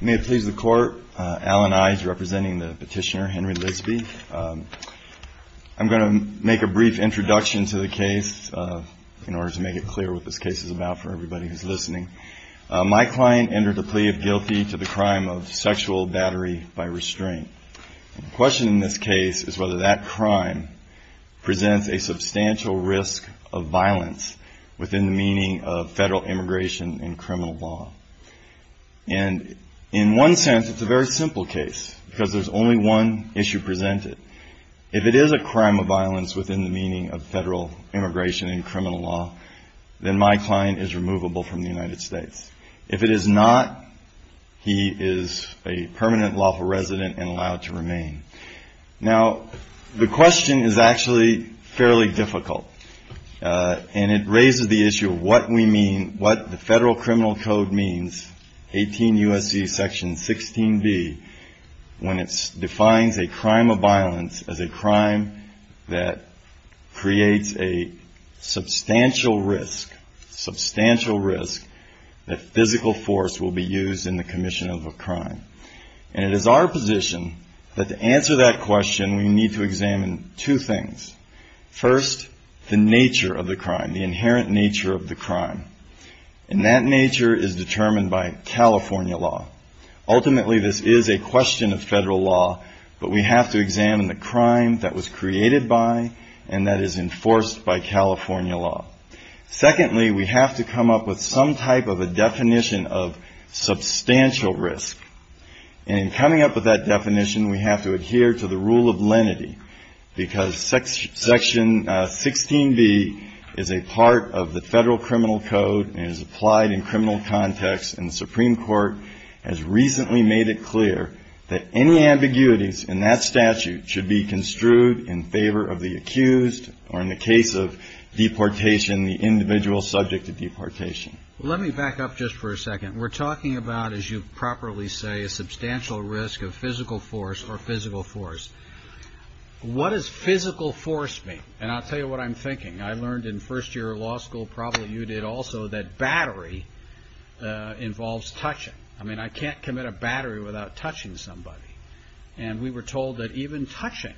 May it please the court, Alan Ise representing the petitioner Henry Lidsbey. I'm going to make a brief introduction to the case in order to make it clear what this case is about for everybody who's listening. My client entered a plea of guilty to the crime of sexual battery by restraint. The question in this case is whether that crime presents a substantial risk of violence within the meaning of federal immigration and criminal law. And in one sense it's a very simple case because there's only one issue presented. If it is a crime of violence within the meaning of federal immigration and criminal law, then my client is removable from the United States. If it is not, he is a permanent lawful resident and allowed to remain. Now, the question is actually fairly difficult. And it raises the issue of what we mean, what the federal criminal code means, 18 U.S.C. section 16B, when it defines a crime of violence as a crime that creates a substantial risk, substantial risk that physical force will be used in the commission of a crime. And it is our position that to answer that question, we need to examine two things. First, the nature of the crime, the inherent nature of the crime. And that nature is determined by California law. Ultimately, this is a question of federal law, but we have to examine the crime that was created by and that is enforced by California law. Secondly, we have to come up with some type of a definition of substantial risk. And in coming up with that definition, we have to adhere to the rule of lenity because section 16B is a part of the federal criminal code and is applied in criminal context. And the Supreme Court has recently made it clear that any ambiguities in that statute should be construed in favor of the accused or in the case of deportation of the accused. And the individual subject to deportation. Let me back up just for a second. We're talking about, as you properly say, a substantial risk of physical force or physical force. What does physical force mean? And I'll tell you what I'm thinking. I learned in first year law school, probably you did also, that battery involves touching. I mean, I can't commit a battery without touching somebody. And we were told that even touching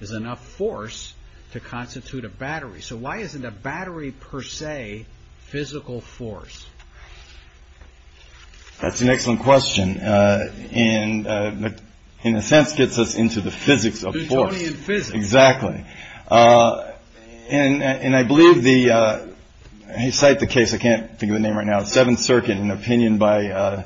is enough force to constitute a battery. So why isn't a battery per se physical force? That's an excellent question. And in a sense, gets us into the physics of force. Exactly. And I believe the, you cite the case, I can't think of the name right now, Seventh Circuit, an opinion by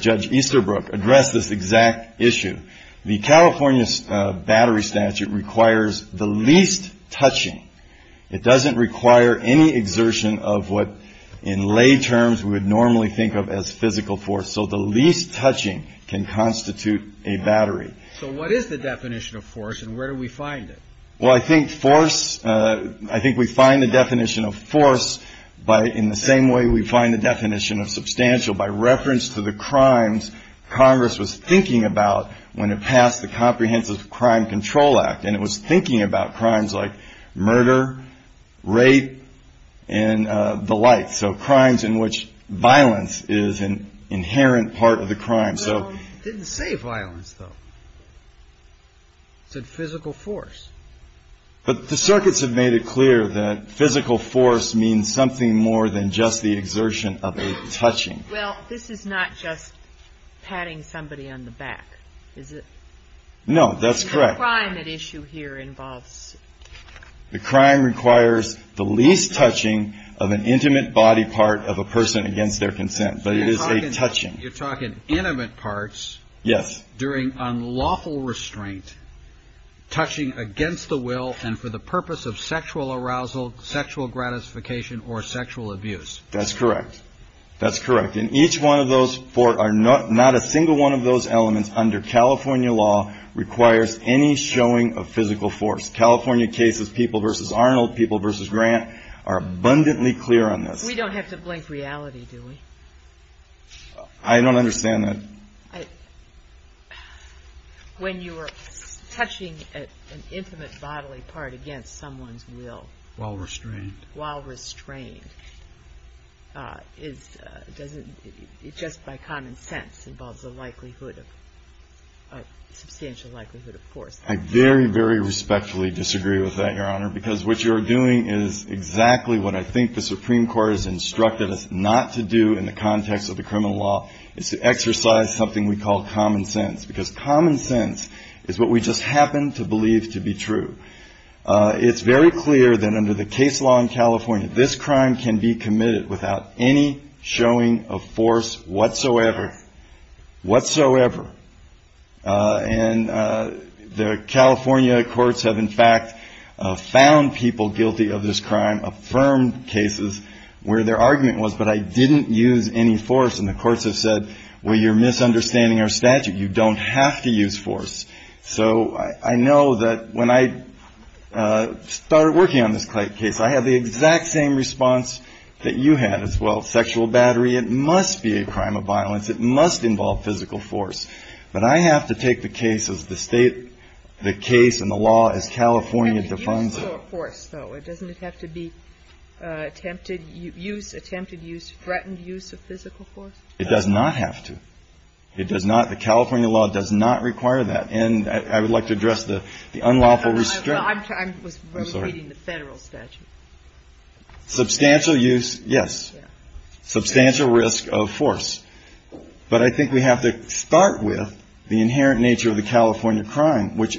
Judge Easterbrook addressed this exact issue. The California battery statute requires the least touching. It doesn't require any exertion of what in lay terms we would normally think of as physical force. So the least touching can constitute a battery. So what is the definition of force and where do we find it? Well, I think force. I think we find the definition of force by in the same way we find the definition of substantial by reference to the crimes Congress was thinking about when it passed the Comprehensive Crime Control Act. And it was thinking about crimes like murder, rape and the like. So crimes in which violence is an inherent part of the crime. So didn't say violence, though. So physical force. But the circuits have made it clear that physical force means something more than just the exertion of a touching. Well, this is not just patting somebody on the back, is it? No, that's correct. The crime at issue here involves. The crime requires the least touching of an intimate body part of a person against their consent. But it is a touching. You're talking intimate parts. Yes. During unlawful restraint, touching against the will and for the purpose of sexual arousal, sexual gratification or sexual abuse. That's correct. That's correct. And each one of those four are not a single one of those elements under California law requires any showing of physical force. California cases, people versus Arnold, people versus Grant are abundantly clear on this. We don't have to blink reality, do we? I don't understand that. When you were touching an intimate bodily part against someone's will. While restrained. Is it just by common sense involves the likelihood of substantial likelihood of force. I very, very respectfully disagree with that, Your Honor, because what you're doing is exactly what I think the Supreme Court has instructed us not to do in the context of the criminal law is to exercise something we call common sense, because common sense is what we just happen to believe to be true. It's very clear that under the case law in California, this crime can be committed without any showing of force whatsoever. Whatsoever. And the California courts have, in fact, found people guilty of this crime. Affirmed cases where their argument was, but I didn't use any force. And the courts have said, well, you're misunderstanding our statute. You don't have to use force. So I know that when I started working on this case, I had the exact same response that you had as well. Sexual battery, it must be a crime of violence. It must involve physical force. But I have to take the case as the state, the case and the law as California defines it. It doesn't have to be attempted use, attempted use, threatened use of physical force. It does not have to. It does not. The California law does not require that. And I would like to address the unlawful restraint. I was reading the federal statute. Substantial use, yes. Substantial risk of force. But I think we have to start with the inherent nature of the California crime, which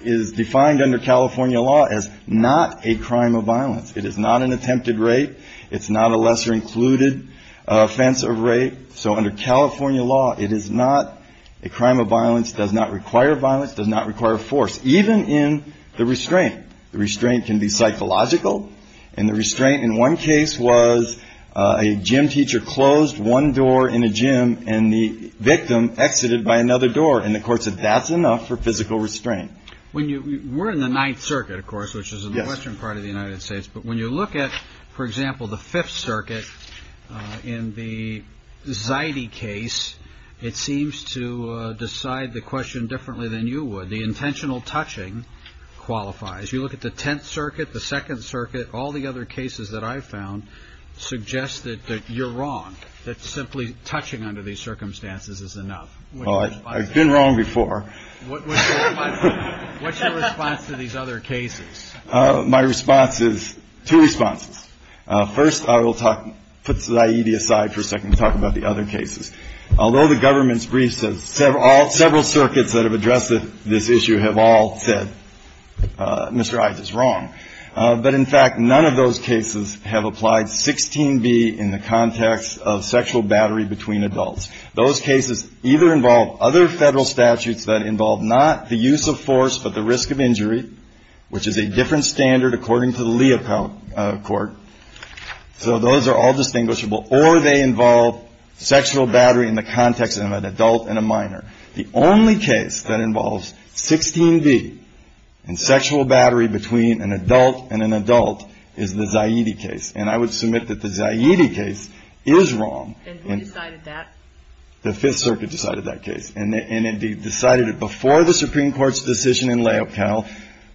is defined under California law as not a crime of violence. It is not an attempted rape. It's not a lesser included offense of rape. So under California law, it is not a crime of violence, does not require violence, does not require force, even in the restraint. The restraint can be psychological. And the restraint in one case was a gym teacher closed one door in a gym and the victim exited by another door. And the court said that's enough for physical restraint. When you were in the Ninth Circuit, of course, which is the western part of the United States. But when you look at, for example, the Fifth Circuit in the Zidey case, it seems to decide the question differently than you would. The intentional touching qualifies. You look at the Tenth Circuit, the Second Circuit. All the other cases that I found suggest that you're wrong. That simply touching under these circumstances is enough. I've been wrong before. What's your response to these other cases? My response is two responses. First, I will put Zaidi aside for a second and talk about the other cases. Although the government's brief says several circuits that have addressed this issue have all said Mr. Ives is wrong. But in fact, none of those cases have applied 16B in the context of sexual battery between adults. Those cases either involve other federal statutes that involve not the use of force but the risk of injury, which is a different standard according to the Leopold Court. So those are all distinguishable. Or they involve sexual battery in the context of an adult and a minor. The only case that involves 16B and sexual battery between an adult and an adult is the Zaidi case. And I would submit that the Zaidi case is wrong. And who decided that? The Fifth Circuit decided that case. And it decided it before the Supreme Court's decision in Leocal,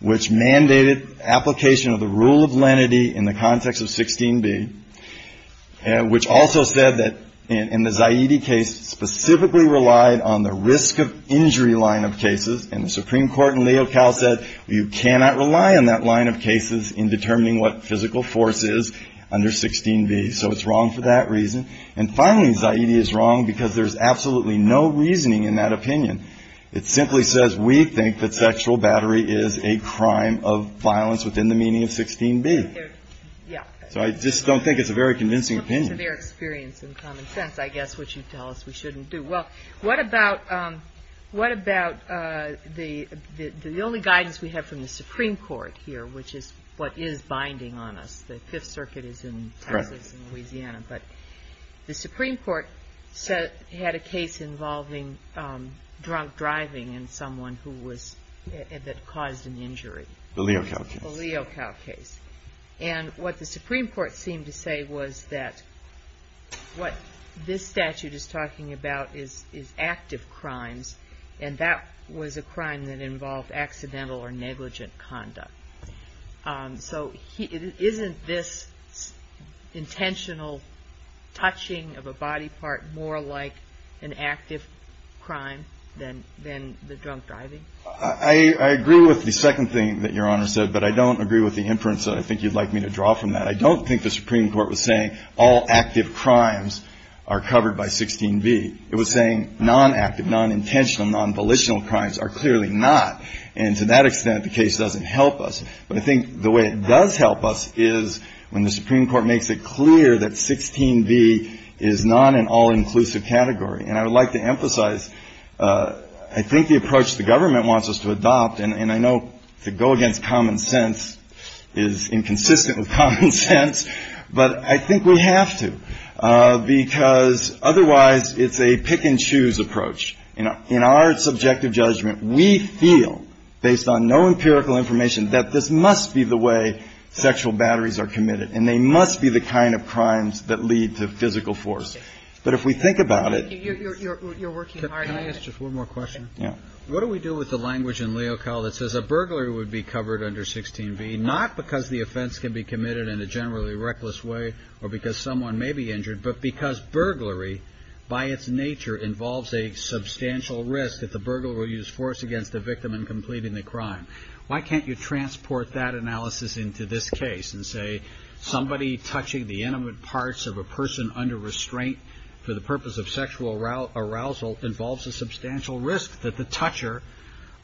which mandated application of the rule of lenity in the context of 16B, which also said that in the Zaidi case specifically relied on the risk of injury line of cases. And the Supreme Court in Leocal said you cannot rely on that line of cases in determining what physical force is under 16B. So it's wrong for that reason. And finally, Zaidi is wrong because there's absolutely no reasoning in that opinion. It simply says we think that sexual battery is a crime of violence within the meaning of 16B. So I just don't think it's a very convincing opinion. It's a severe experience in common sense, I guess, which you tell us we shouldn't do. Well, what about the only guidance we have from the Supreme Court here, which is what is binding on us, because the Fifth Circuit is in Texas and Louisiana. But the Supreme Court said it had a case involving drunk driving in someone who was – that caused an injury. The Leocal case. The Leocal case. And what the Supreme Court seemed to say was that what this statute is talking about is active crimes, and that was a crime that involved accidental or negligent conduct. So isn't this intentional touching of a body part more like an active crime than the drunk driving? I agree with the second thing that Your Honor said, but I don't agree with the inference that I think you'd like me to draw from that. I don't think the Supreme Court was saying all active crimes are covered by 16B. It was saying non-active, non-intentional, non-volitional crimes are clearly not. And to that extent, the case doesn't help us. But I think the way it does help us is when the Supreme Court makes it clear that 16B is not an all-inclusive category. And I would like to emphasize, I think the approach the government wants us to adopt, and I know to go against common sense is inconsistent with common sense, but I think we have to, because otherwise it's a pick-and-choose approach. In our subjective judgment, we feel, based on no empirical information, that this must be the way sexual batteries are committed, and they must be the kind of crimes that lead to physical force. But if we think about it — You're working hard. Can I ask just one more question? Yeah. What do we do with the language in Leocal that says a burglary would be covered under 16B, not because the offense can be committed in a generally reckless way or because someone may be injured, but because burglary by its nature involves a substantial risk that the burglar will use force against the victim in completing the crime? Why can't you transport that analysis into this case and say somebody touching the intimate parts of a person under restraint for the purpose of sexual arousal involves a substantial risk that the toucher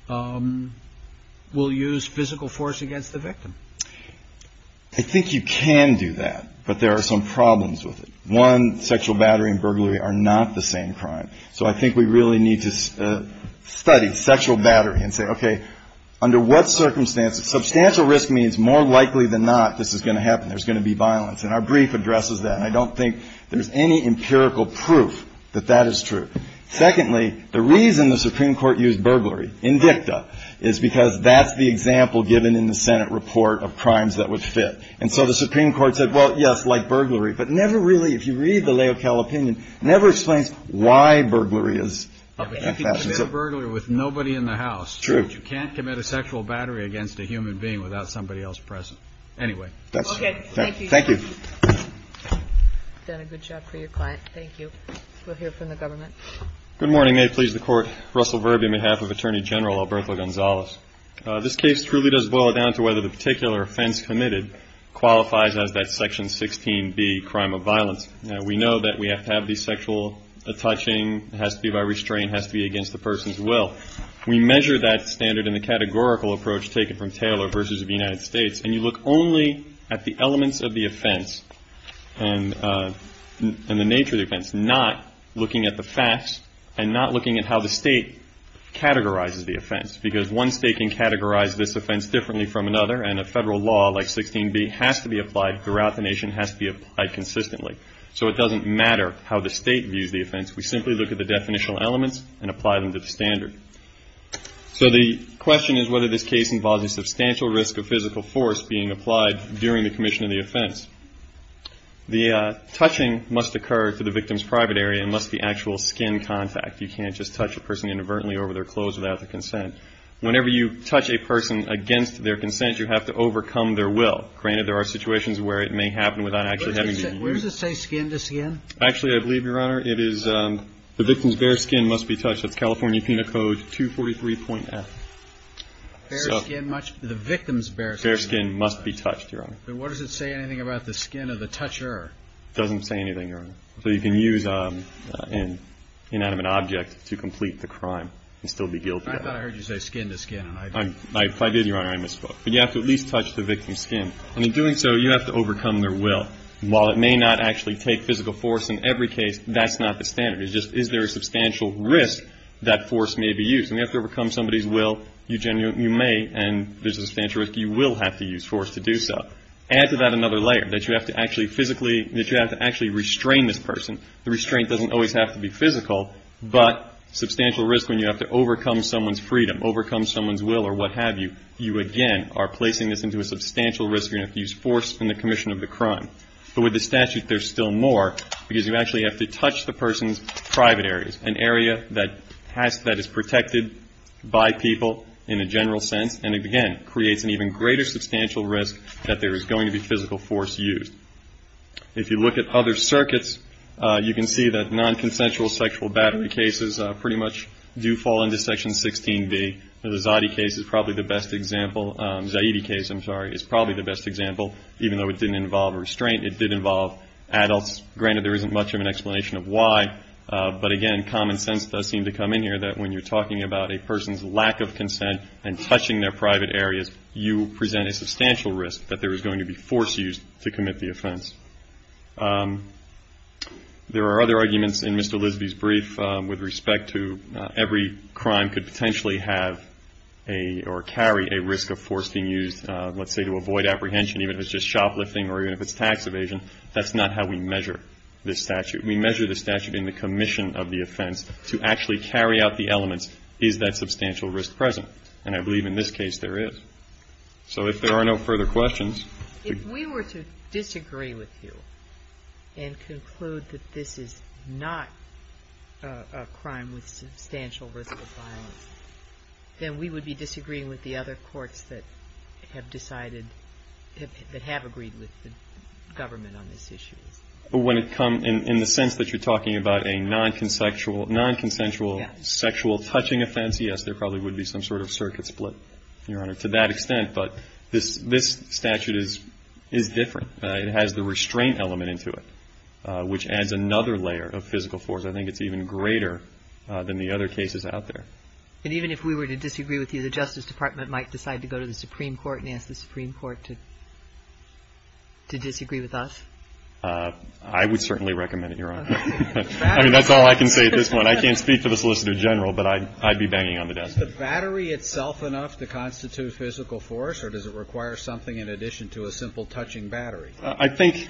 will use physical force against the victim? I think you can do that, but there are some problems with it. One, sexual battery and burglary are not the same crime. So I think we really need to study sexual battery and say, okay, under what circumstances? Substantial risk means more likely than not this is going to happen. There's going to be violence. And our brief addresses that. And I don't think there's any empirical proof that that is true. Secondly, the reason the Supreme Court used burglary in dicta is because that's the example given in the Senate report of crimes that would fit. And so the Supreme Court said, well, yes, like burglary. But never really, if you read the Laocale opinion, never explains why burglary is. But you can commit a burglary with nobody in the house. True. But you can't commit a sexual battery against a human being without somebody else present. Anyway. Okay. Thank you. Thank you. You've done a good job for your client. Thank you. We'll hear from the government. Good morning. May it please the Court. Russell Verby on behalf of Attorney General Alberto Gonzalez. This case truly does boil it down to whether the particular offense committed qualifies as that Section 16B crime of violence. We know that we have to have the sexual touching. It has to be by restraint. It has to be against the person's will. We measure that standard in the categorical approach taken from Taylor versus the United States. And you look only at the elements of the offense and the nature of the offense, not looking at the facts and not looking at how the state categorizes the offense. Because one state can categorize this offense differently from another, and a federal law like 16B has to be applied throughout the nation, has to be applied consistently. So it doesn't matter how the state views the offense. We simply look at the definitional elements and apply them to the standard. So the question is whether this case involves a substantial risk of physical force being applied during the commission of the offense. The touching must occur to the victim's private area unless the actual skin contact. You can't just touch a person inadvertently over their clothes without their consent. Whenever you touch a person against their consent, you have to overcome their will. Granted, there are situations where it may happen without actually having to be used. Where does it say skin to skin? Actually, I believe, Your Honor, it is the victim's bare skin must be touched. That's California Penal Code 243.F. The victim's bare skin. Bare skin must be touched, Your Honor. But what does it say anything about the skin of the toucher? It doesn't say anything, Your Honor. So you can use an inanimate object to complete the crime and still be guilty of it. I thought I heard you say skin to skin. If I did, Your Honor, I misspoke. But you have to at least touch the victim's skin. And in doing so, you have to overcome their will. While it may not actually take physical force in every case, that's not the standard. It's just is there a substantial risk that force may be used? When you have to overcome somebody's will, you may, and there's a substantial risk you will have to use force to do so. Add to that another layer, that you have to actually physically, that you have to actually restrain this person. The restraint doesn't always have to be physical. But substantial risk when you have to overcome someone's freedom, overcome someone's will or what have you, you again are placing this into a substantial risk. You're going to have to use force in the commission of the crime. But with the statute, there's still more because you actually have to touch the person's private areas, an area that has, that is protected by people in a general sense. And, again, creates an even greater substantial risk that there is going to be physical force used. If you look at other circuits, you can see that non-consensual sexual battery cases pretty much do fall into Section 16B. The Zaidi case is probably the best example. Zaidi case, I'm sorry, is probably the best example, even though it didn't involve restraint. It did involve adults. Granted, there isn't much of an explanation of why. But, again, common sense does seem to come in here that when you're talking about a person's lack of consent and touching their private areas, you present a substantial risk that there is going to be force used to commit the offense. There are other arguments in Mr. Lisby's brief with respect to every crime could potentially have a or carry a risk of force being used, let's say, to avoid apprehension, even if it's just shoplifting or even if it's tax evasion. That's not how we measure this statute. We measure the statute in the commission of the offense to actually carry out the elements, is that substantial risk present? And I believe in this case there is. So if there are no further questions. If we were to disagree with you and conclude that this is not a crime with substantial risk of violence, then we would be disagreeing with the other courts that have decided, that have agreed with the government on this issue. But when it comes in the sense that you're talking about a nonconsensual sexual touching offense, yes, there probably would be some sort of circuit split, Your Honor, to that extent. But this statute is different. It has the restraint element into it, which adds another layer of physical force. I think it's even greater than the other cases out there. And even if we were to disagree with you, the Justice Department might decide to go to the Supreme Court and ask the Supreme Court to disagree with us? I would certainly recommend it, Your Honor. I mean, that's all I can say at this point. I can't speak for the Solicitor General, but I'd be banging on the desk. Is the battery itself enough to constitute physical force, or does it require something in addition to a simple touching battery? I think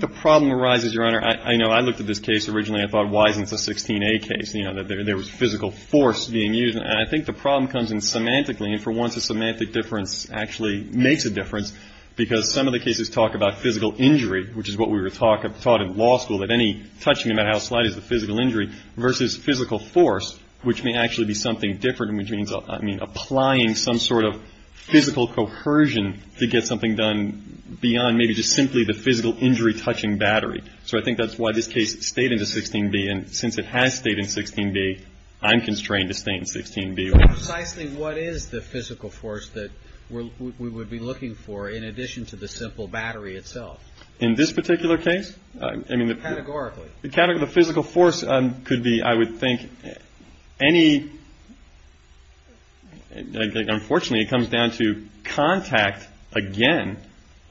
the problem arises, Your Honor. I know I looked at this case originally and thought, why isn't this a 16A case? You know, there was physical force being used. And I think the problem comes in semantically. And for once, a semantic difference actually makes a difference, because some of the cases talk about physical injury, which is what we were taught in law school, that any touching, no matter how slight, is a physical injury, versus physical force, which may actually be something different, and which means, I mean, applying some sort of physical coercion to get something done beyond maybe just simply the physical injury touching battery. So I think that's why this case stayed in the 16B. And since it has stayed in 16B, I'm constrained to stay in 16B. So precisely what is the physical force that we would be looking for, in addition to the simple battery itself? In this particular case? Categorically. The physical force could be, I would think, any – unfortunately, it comes down to contact again,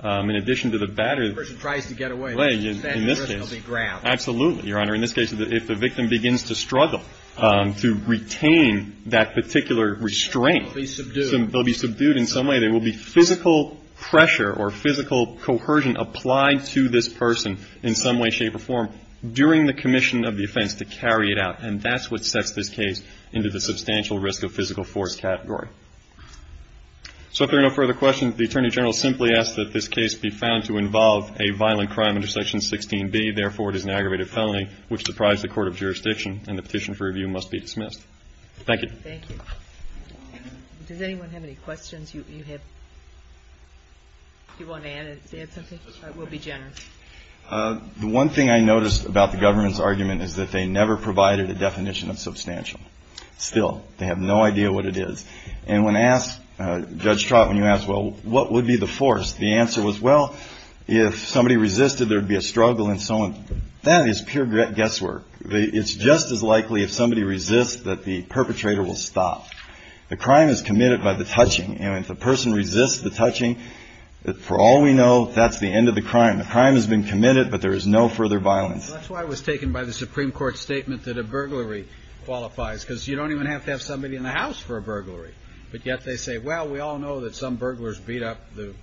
in addition to the battery. The person tries to get away. In this case. That person will be grabbed. Absolutely, Your Honor. In this case, if the victim begins to struggle to retain that particular restraint. They'll be subdued. They'll be subdued in some way. There will be physical pressure or physical coercion applied to this person in some way, shape, or form during the commission of the offense to carry it out. And that's what sets this case into the substantial risk of physical force category. So if there are no further questions, the Attorney General simply asks that this case be found to involve a violent crime under Section 16B. Therefore, it is an aggravated felony which deprives the court of jurisdiction, and the petition for review must be dismissed. Thank you. Thank you. Does anyone have any questions? Do you want to add something? We'll be generous. The one thing I noticed about the government's argument is that they never provided a definition of substantial. Still, they have no idea what it is. And when asked, Judge Trott, when you asked, well, what would be the force? The answer was, well, if somebody resisted, there would be a struggle and so on. That is pure guesswork. It's just as likely if somebody resists that the perpetrator will stop. The crime is committed by the touching. And if the person resists the touching, for all we know, that's the end of the crime. The crime has been committed, but there is no further violence. That's why I was taken by the Supreme Court's statement that a burglary qualifies, because you don't even have to have somebody in the house for a burglary. But yet they say, well, we all know that some burglars beat up the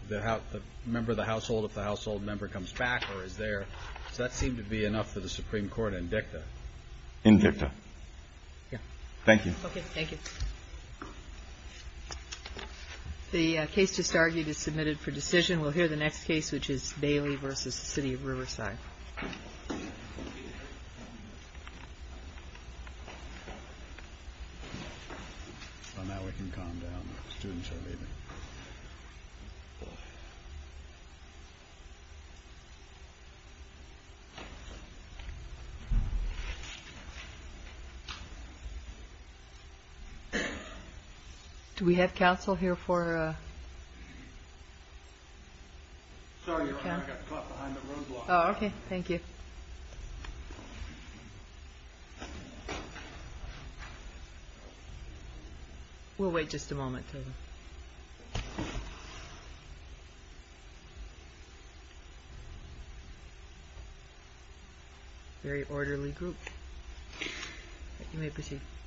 member of the household if the household member comes back or is there. So that seemed to be enough for the Supreme Court in dicta. In dicta. Thank you. Okay. Thank you. The case just argued is submitted for decision. We'll hear the next case, which is Bailey v. City of Riverside. Do we have counsel here for? Sorry. Okay. Thank you. We'll wait just a moment. Very orderly group. You may proceed.